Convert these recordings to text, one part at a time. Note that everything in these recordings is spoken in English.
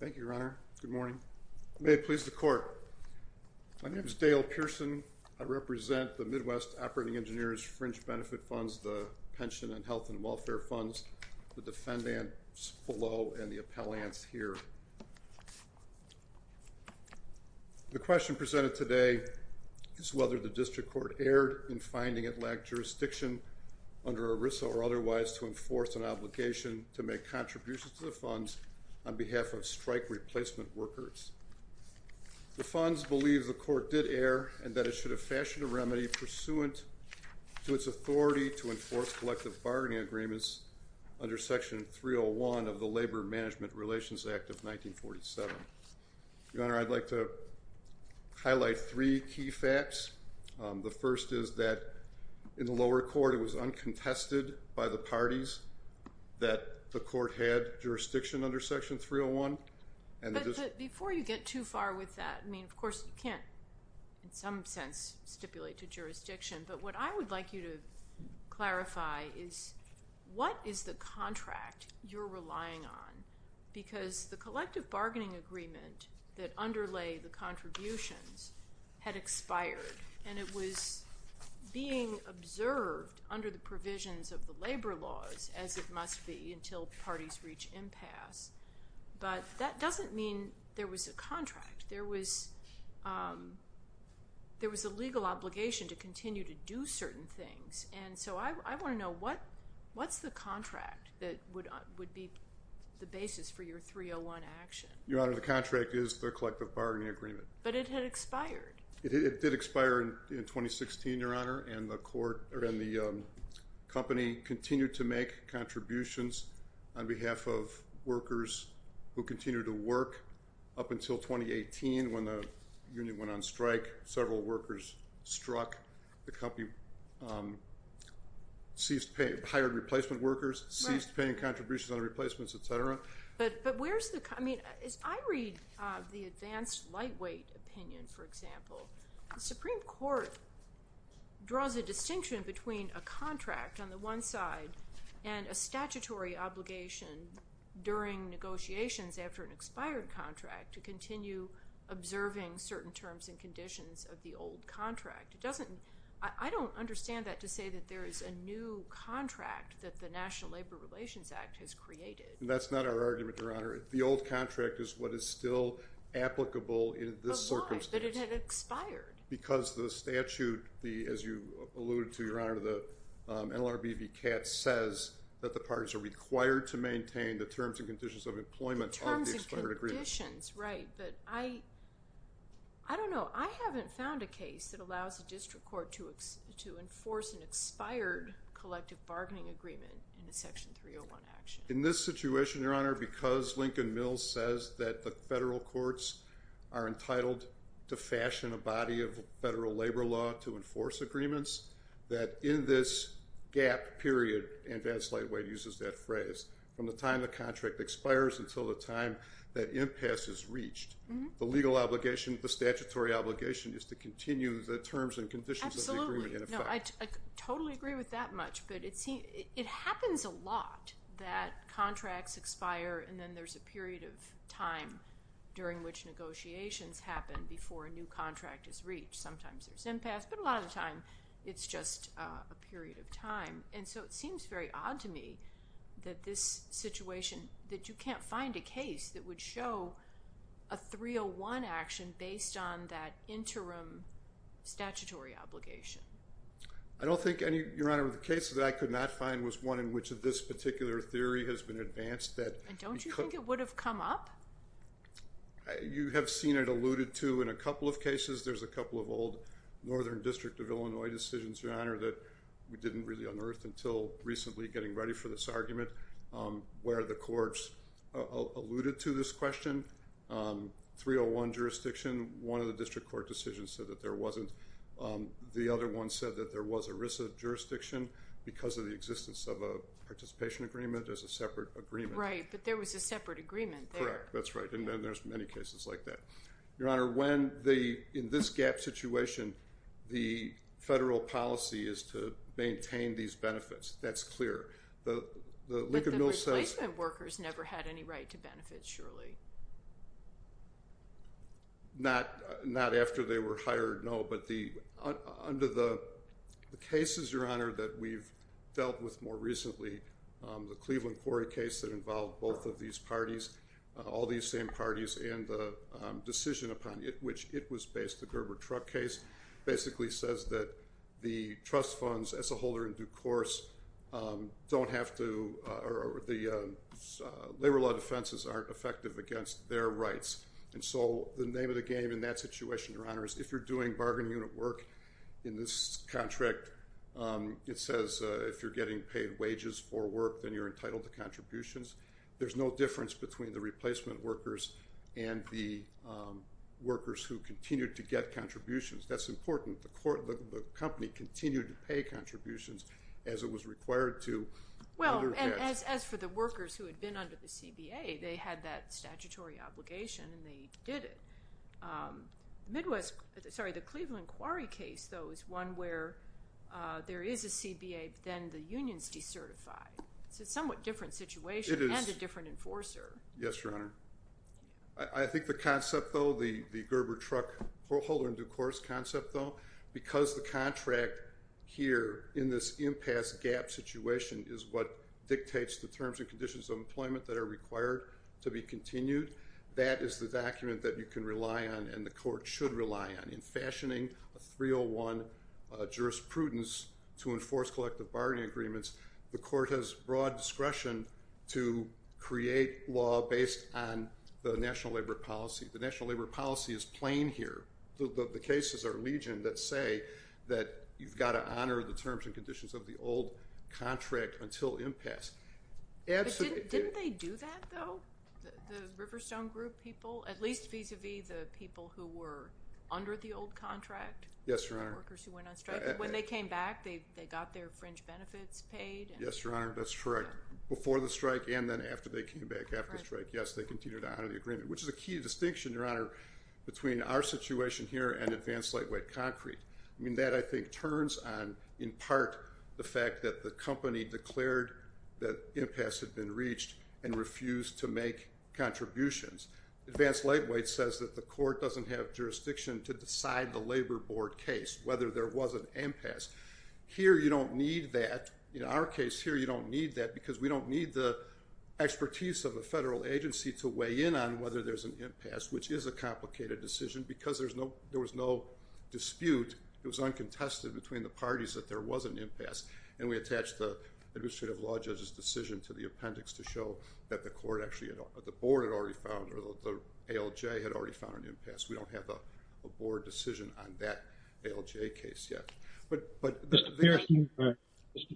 Thank you, Your Honor. Good morning. May it please the Court. My name is Dale Pearson. I represent the Midwest Operating Engineers Fringe Benefit Funds, the Pension and Health and Welfare Funds, the defendants below, and the appellants here. The question presented today is whether the District Court erred in finding it lacked jurisdiction under ERISA or otherwise to enforce an obligation to make contributions to the funds on behalf of strike replacement workers. The funds believe the Court did err and that it should have fashioned a remedy pursuant to its authority to enforce collective bargaining agreements under Section 301 of the Labor Management Relations Act of 1947. Your Honor, I'd like to highlight three key facts. The first is that in the lower court, it was uncontested by the parties that the Court had jurisdiction under Section 301. But before you get too far with that, I mean, of course, you can't in some sense stipulate to jurisdiction, but what I would like you to clarify is what is the contract you're relying on because the collective bargaining agreement that underlay the contributions had expired and it was being observed under the provisions of the labor laws as it must be until parties reach impasse. But that doesn't mean there was a contract. There was a legal obligation to continue to do certain things, and so I want to know what's the contract that would be the basis for your 301 action. Your Honor, the contract is the collective bargaining agreement. But it had expired. It did expire in 2016, Your Honor, and the company continued to make contributions on behalf of workers who continued to work up until 2018 when the union went on strike, several workers struck, the company ceased paying, hired replacement workers, ceased paying contributions on replacements, et cetera. But where's the, I mean, as I read the advanced lightweight opinion, for example, the Supreme Court draws a distinction between a contract on the one side and a statutory obligation during negotiations after an expired contract to continue observing certain terms and conditions of the old contract. It doesn't, I don't understand that to say that there is a new contract that the National Labor Relations Act has created. That's not our argument, Your Honor. The old contract is what is still applicable in this circumstance. But why? But it had expired. Because the statute, as you alluded to, Your Honor, the NLRB VCAT says that the parties are required to maintain the terms and conditions of employment of the expired agreement. Terms and conditions, right. But I, I don't know, I haven't found a case that allows a district court to enforce an expired collective bargaining agreement in a Section 301 action. In this situation, Your Honor, because Lincoln Mills says that the federal courts are entitled to fashion a body of federal labor law to enforce agreements, that in this gap period, advanced lightweight uses that phrase, from the time the contract expires until the time that impasse is reached, the legal obligation, the statutory obligation is to continue the terms and conditions of the agreement in effect. Absolutely. No, I totally agree with that much, but it seems, it happens a lot that contracts expire and then there's a period of time during which negotiations happen before a new contract is reached. Sometimes there's impasse, but a lot of the time it's just a period of time. And so it seems very odd to me that this situation, that you can't find a case that would show a 301 action based on that interim statutory obligation. I don't think any, Your Honor, the case that I could not find was one in which this particular theory has been advanced that... And don't you think it would have come up? You have seen it alluded to in a couple of cases. There's a couple of old Northern District of Illinois decisions, Your Honor, that we didn't really unearth until recently getting ready for this argument where the courts alluded to this question. 301 jurisdiction, one of the district court decisions said that there wasn't. The other one said that there was jurisdiction because of the existence of a participation agreement as a separate agreement. Right, but there was a separate agreement there. Correct, that's right. And then there's many cases like that. Your Honor, when the, in this gap situation, the federal policy is to maintain these benefits. That's clear. But the replacement workers never had any right to benefit, surely? Not after they were hired, no. But under the cases, Your Honor, that we've dealt with more recently, the Cleveland quarry case that involved both of these parties, all these same parties, and the decision upon which it was based, the Gerber truck case, basically says that the trust funds as a holder in due course don't have to, or the labor law defenses aren't effective against their rights. And so the name of the game in that situation, Your Honor, is if you're doing bargain unit work in this contract, it says if you're getting paid wages for work, then you're entitled to contributions. There's no difference between the replacement workers and the workers who continue to get contributions. That's important. The company continued to pay contributions as it was required to. Well, and as for the workers who had been under the CBA, they had that statutory obligation and they did it. Midwest, sorry, the Cleveland quarry case, though, is one where there is a CBA, but then the union's decertified. It's a somewhat different situation and a different enforcer. Yes, Your Honor. I think the concept, though, the Gerber truck holder in due course concept, though, because the contract here in this impasse gap situation is what dictates the terms and conditions of employment that are required to be continued, that is the document that you can rely on and the court should rely on. In fashioning a 301 jurisprudence to enforce collective bargaining agreements, the court has broad discretion to create law based on the national labor policy. The national labor policy is plain here. The cases are legion that say that you've got to honor the old contract until impasse. But didn't they do that, though, the Riverstone group people, at least vis-a-vis the people who were under the old contract? Yes, Your Honor. The workers who went on strike. When they came back, they got their fringe benefits paid. Yes, Your Honor, that's correct. Before the strike and then after they came back after the strike. Yes, they continued to honor the agreement, which is a key distinction, Your Honor, between our fact that the company declared that impasse had been reached and refused to make contributions. Advanced Lightweight says that the court doesn't have jurisdiction to decide the labor board case, whether there was an impasse. Here, you don't need that. In our case here, you don't need that because we don't need the expertise of the federal agency to weigh in on whether there's an impasse, which is a complicated decision because there was no dispute. It was uncontested between the parties that there was an impasse and we attached the administrative law judge's decision to the appendix to show that the court actually, the board had already found or the ALJ had already found an impasse. We don't have a board decision on that ALJ case yet. Mr.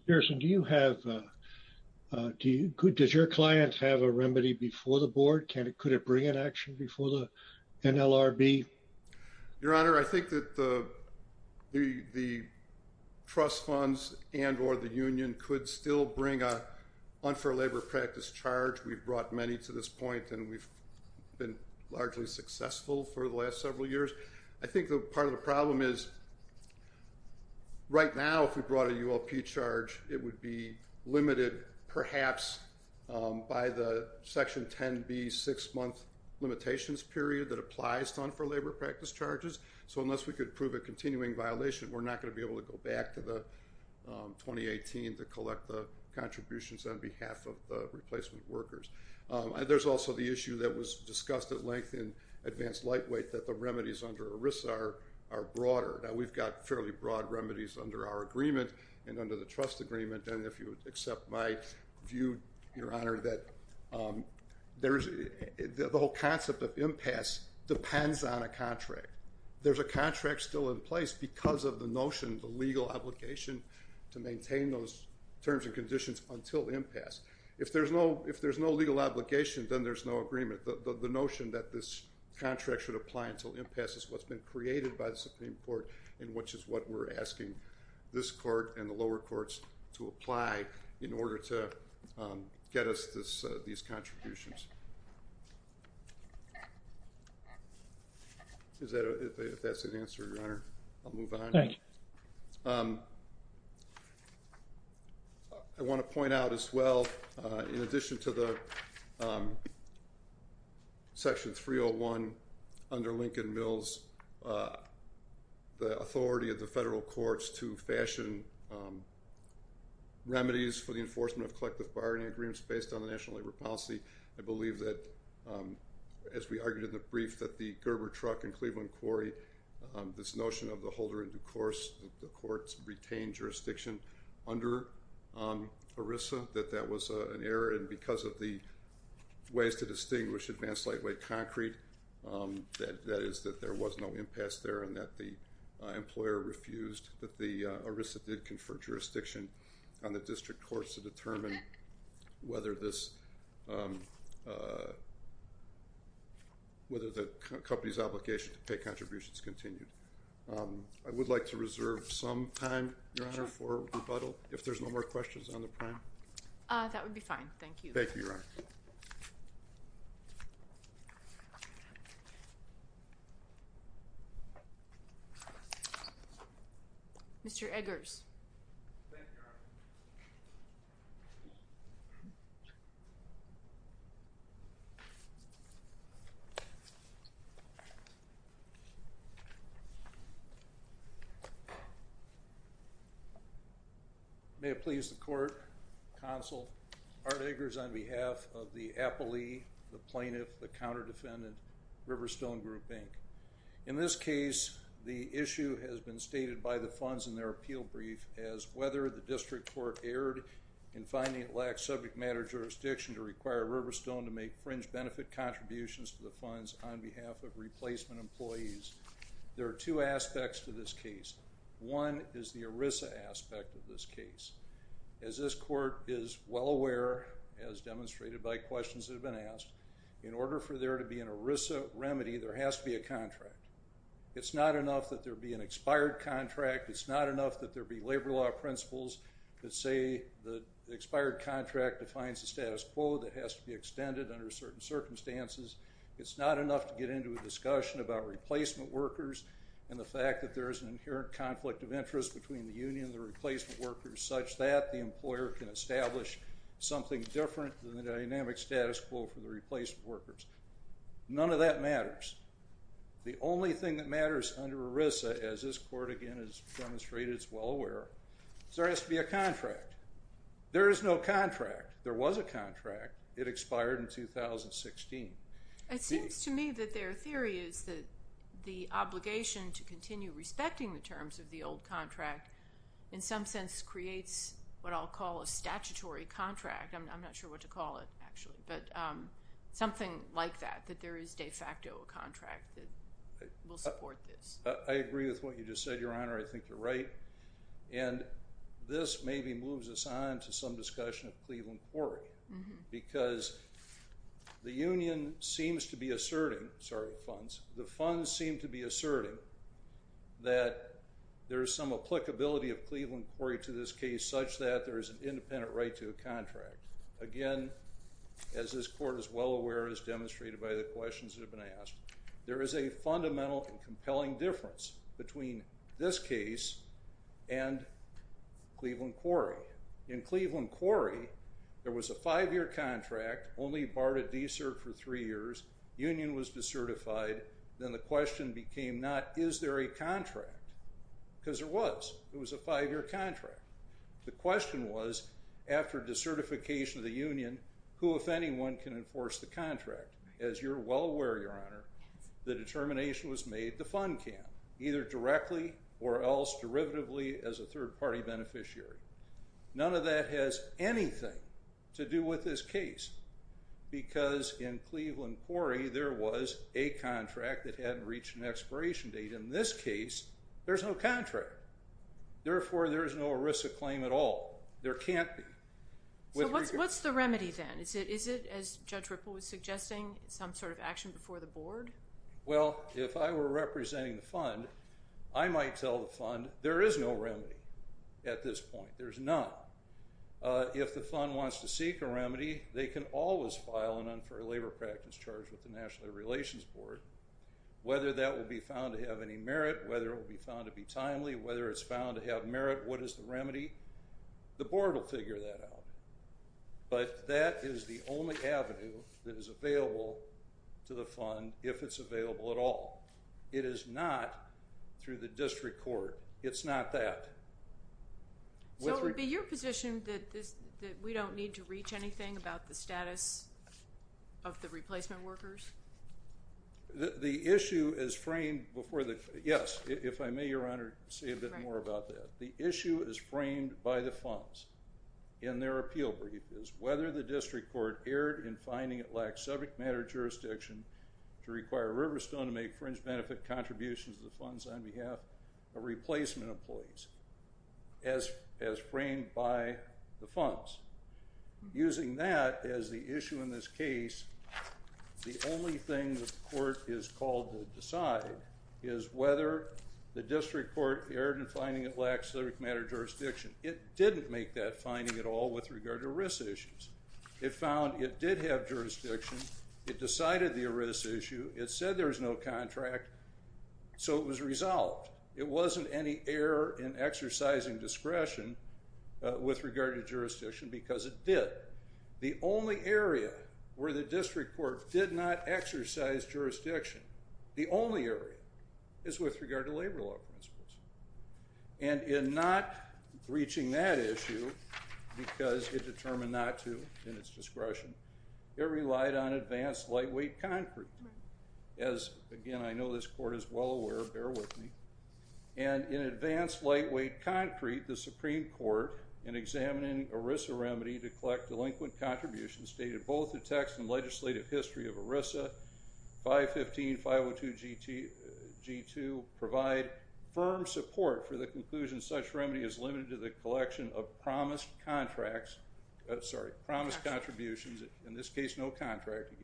Pearson, do you have, do you, does your client have a remedy before the board? Could it bring an action before the NLRB? Your Honor, I think that the trust funds and or the union could still bring a unfair labor practice charge. We've brought many to this point and we've been largely successful for the last several years. I think the part of the problem is right now, if we brought a ULP charge, it would be limited perhaps by the section 10b six-month limitations period that applies to unfair labor practice charges. So unless we could prove a continuing violation, we're not going to be able to go back to the 2018 to collect the contributions on behalf of the replacement workers. There's also the issue that was discussed at length in Advanced Lightweight that the remedies under ERISA are broader. Now we've got fairly broad remedies under our agreement and under the trust agreement and if you would accept my Your Honor, that the whole concept of impasse depends on a contract. There's a contract still in place because of the notion, the legal obligation to maintain those terms and conditions until impasse. If there's no legal obligation, then there's no agreement. The notion that this contract should apply until impasse is what's been created by the Supreme Court and which is what we're asking this court and the lower courts to apply in order to get us these contributions. If that's an answer, Your Honor, I'll move on. I want to point out as well, in addition to the 301 under Lincoln Mills, the authority of the federal courts to fashion remedies for the enforcement of collective bargaining agreements based on the national labor policy. I believe that, as we argued in the brief, that the Gerber truck in Cleveland Quarry, this notion of the holder in due course, the courts retained jurisdiction under ERISA, that that was an error and because of the ways to distinguish advanced lightweight concrete, that is that there was no impasse there and that the employer refused that the ERISA did confer jurisdiction on the district courts to determine whether the company's obligation to pay contributions continued. I would like to reserve some time, Your Honor, for rebuttal if there's no more questions on the prime. That would be fine, thank you. Thank you, Your Honor. Mr. Eggers. May it please the court, counsel, Art Eggers on behalf of the appellee, the plaintiff, the counter-defendant, Riverstone Group, Inc. In this case, the issue has been stated by the funds in their appeal brief as whether the district court erred in finding it lacked subject matter jurisdiction to require Riverstone to make fringe benefit contributions to the funds on behalf of As this court is well aware, as demonstrated by questions that have been asked, in order for there to be an ERISA remedy, there has to be a contract. It's not enough that there be an expired contract. It's not enough that there be labor law principles that say the expired contract defines the status quo that has to be extended under certain circumstances. It's not enough to get into a discussion about replacement workers and the fact that there is an inherent conflict of interest between the union and the replacement workers such that the employer can establish something different than the dynamic status quo for the replacement workers. None of that matters. The only thing that matters under ERISA, as this court again has demonstrated is well aware, is there has to be a contract. There is no contract. There was a contract. It expired in 2016. It seems to me that their theory is that the obligation to continue respecting the old contract in some sense creates what I'll call a statutory contract. I'm not sure what to call it actually, but something like that, that there is de facto a contract that will support this. I agree with what you just said, Your Honor. I think you're right. And this maybe moves us on to some discussion of Cleveland Quarry because the union seems to be asserting, sorry funds, the funds seem to be asserting that there is some applicability of Cleveland Quarry to this case such that there is an independent right to a contract. Again, as this court is well aware, as demonstrated by the questions that have been asked, there is a fundamental and compelling difference between this case and Cleveland Quarry. In Cleveland Quarry, there was a five-year contract, only barred a de-cert for three years. Union was decertified. Then the question became not, is there a contract? Because there was. It was a five-year contract. The question was, after decertification of the union, who, if anyone, can enforce the contract? As you're well aware, Your Honor, the determination was made, the fund can, either directly or else derivatively as a case. Because in Cleveland Quarry, there was a contract that hadn't reached an expiration date. In this case, there's no contract. Therefore, there is no ERISA claim at all. There can't be. So what's the remedy then? Is it, as Judge Ripple was suggesting, some sort of action before the board? Well, if I were representing the fund, I might tell the fund there is no remedy at this point. They can always file an unfair labor practice charge with the National Relations Board. Whether that will be found to have any merit, whether it will be found to be timely, whether it's found to have merit, what is the remedy? The board will figure that out. But that is the only avenue that is available to the fund, if it's available at all. It is not through the district court. It's not that. So it would be your position that we don't need to reach anything about the status of the replacement workers? The issue is framed before the, yes, if I may, Your Honor, say a bit more about that. The issue is framed by the funds in their appeal brief, is whether the district court erred in finding it lacked subject matter jurisdiction to require Riverstone to make fringe benefit contributions to the funds on behalf of replacement employees, as framed by the funds. Using that as the issue in this case, the only thing the court is called to decide is whether the district court erred in finding it lacks subject matter jurisdiction. It didn't make that finding at all with regard to risk issues. It found it did have jurisdiction. It decided the risk issue. It said there was no contract, so it was resolved. It wasn't any error in exercising discretion with regard to jurisdiction because it did. The only area where the district court did not exercise jurisdiction, the only area is with regard to labor law principles. And in not reaching that issue because it determined not to in its discretion, it relied on advanced lightweight concrete. As, again, I know this court is well aware, bear with me. And in advanced lightweight concrete, the Supreme Court, in examining ERISA remedy to collect delinquent contributions, stated both the text and legislative history of ERISA, 515.502.G2, provide firm support for the conclusion such remedy is promised contributions, in this case no contract,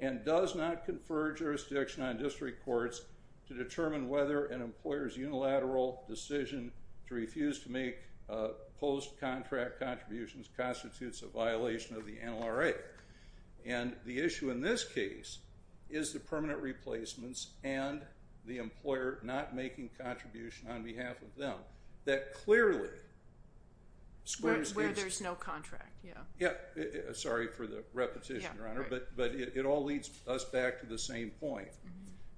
and does not confer jurisdiction on district courts to determine whether an employer's unilateral decision to refuse to make post-contract contributions constitutes a violation of the NLRA. And the issue in this case is the permanent square space. Where there's no contract, yeah. Yeah, sorry for the repetition, Your Honor, but it all leads us back to the same point.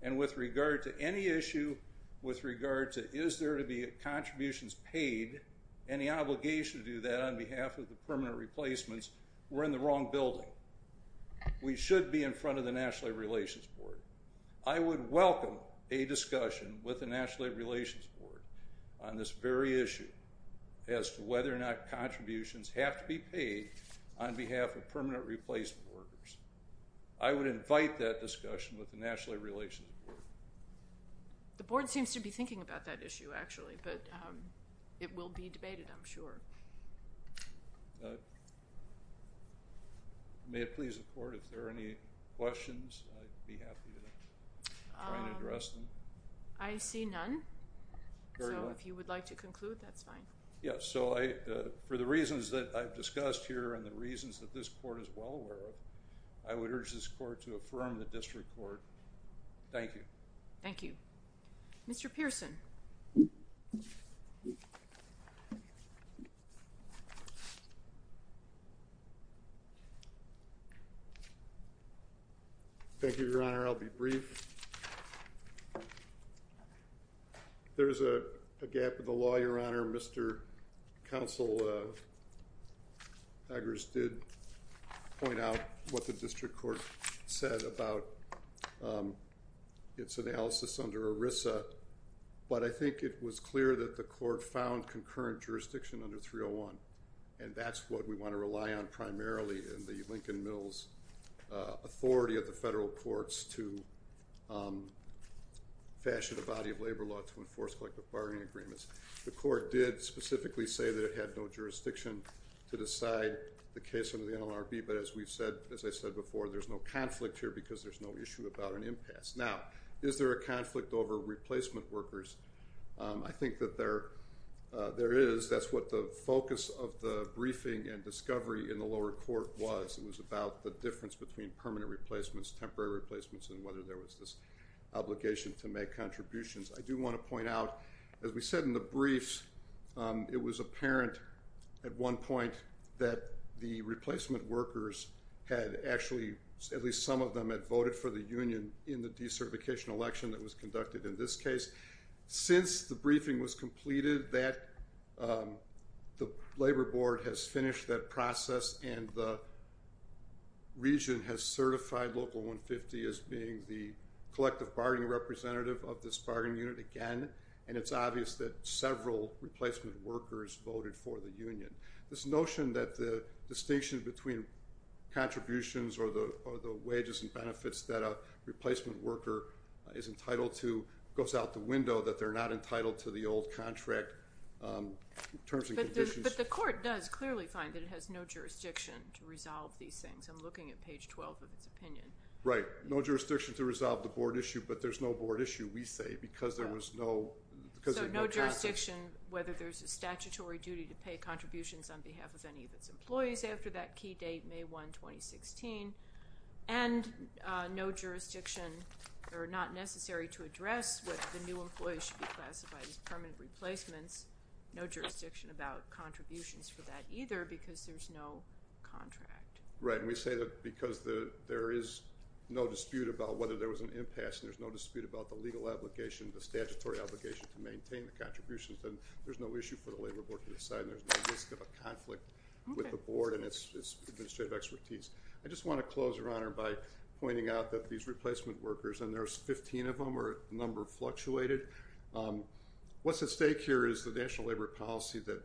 And with regard to any issue with regard to is there to be contributions paid, any obligation to do that on behalf of the permanent replacements, we're in the wrong building. We should be in front of the National Labor Relations Board. I would welcome a discussion with the National Labor Relations Board on this very issue as to contributions have to be paid on behalf of permanent replacement workers. I would invite that discussion with the National Labor Relations Board. The Board seems to be thinking about that issue, actually, but it will be debated, I'm sure. May it please the Court, if there are any questions, I'd be happy to try and address them. I see none, so if you would like to conclude, that's fine. Yeah, so I, for the reasons that I've discussed here and the reasons that this Court is well aware of, I would urge this Court to affirm the District Court. Thank you. Thank you. Mr. Pearson. Thank you, Your Honor. I'll be brief. There's a gap in the law, Your Honor. Mr. Counsel Daggers did point out what the District Court said about its analysis under ERISA, but I think it was clear that the Court found concurrent jurisdiction under 301, and that's what we want to rely on primarily in the Lincoln Mills Authority of the federal courts to fashion a body of labor law to enforce collective bargaining agreements. The Court did specifically say that it had no jurisdiction to decide the case under the NLRB, but as we've said, as I said before, there's no conflict here because there's no issue about an impasse. Now, is there a conflict over replacement workers? I think that there is. That's what the focus of the briefing and discovery in the lower court was. It was about the difference between permanent replacements, temporary replacements, and whether there was this obligation to make contributions. I do want to point out, as we said in the briefs, it was apparent at one point that the replacement workers had actually, at least some of them, had voted for the union in the decertification election that was conducted in this case. Since the briefing was completed, the labor board has finished that process and the region has certified Local 150 as being the collective bargaining representative of this bargaining unit again, and it's obvious that several replacement workers voted for the union. This notion that the distinction between contributions or the wages and benefits that a replacement worker is entitled to goes out the window, that they're not entitled to the old contract terms and conditions. But the Court does clearly find that it has no jurisdiction to resolve these things. I'm looking at page 12 of its opinion. Right. No jurisdiction to resolve the board issue, but there's no board issue, we say, because there was no... So no jurisdiction whether there's a statutory duty to pay contributions on behalf of any of its employees after that key date, May 1, 2016, and no jurisdiction or not necessary to address whether the new employee should be classified as permanent replacements. No jurisdiction about contract. Right, and we say that because there is no dispute about whether there was an impasse, there's no dispute about the legal obligation, the statutory obligation to maintain the contributions, then there's no issue for the labor board to decide. There's no risk of a conflict with the board and its administrative expertise. I just want to close, Your Honor, by pointing out that these replacement workers, and there's 15 of them, or a number fluctuated. What's at stake here is the national labor policy that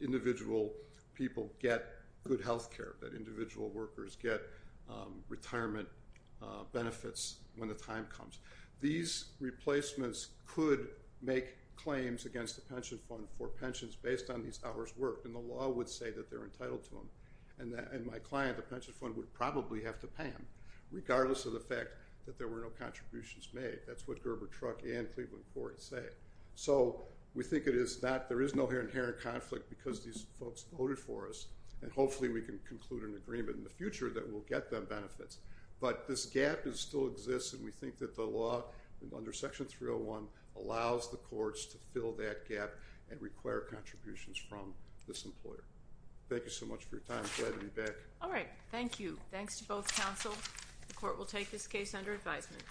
individual people get good health care, that individual workers get retirement benefits when the time comes. These replacements could make claims against the pension fund for pensions based on these hours worked, and the law would say that they're entitled to them, and my client, the pension fund, would probably have to pay them, regardless of the fact that there were no contributions made. That's what Gerber Truck and Cleveland Court say. So we think it is not, there is no inherent conflict because these folks voted for us, and hopefully we can conclude an agreement in the future that will get them benefits, but this gap does still exist, and we think that the law under Section 301 allows the courts to fill that gap and require contributions from this employer. Thank you so much for your time. Glad to be back. All right, thank you. Thanks to both counsel. The court will take this case under advisement.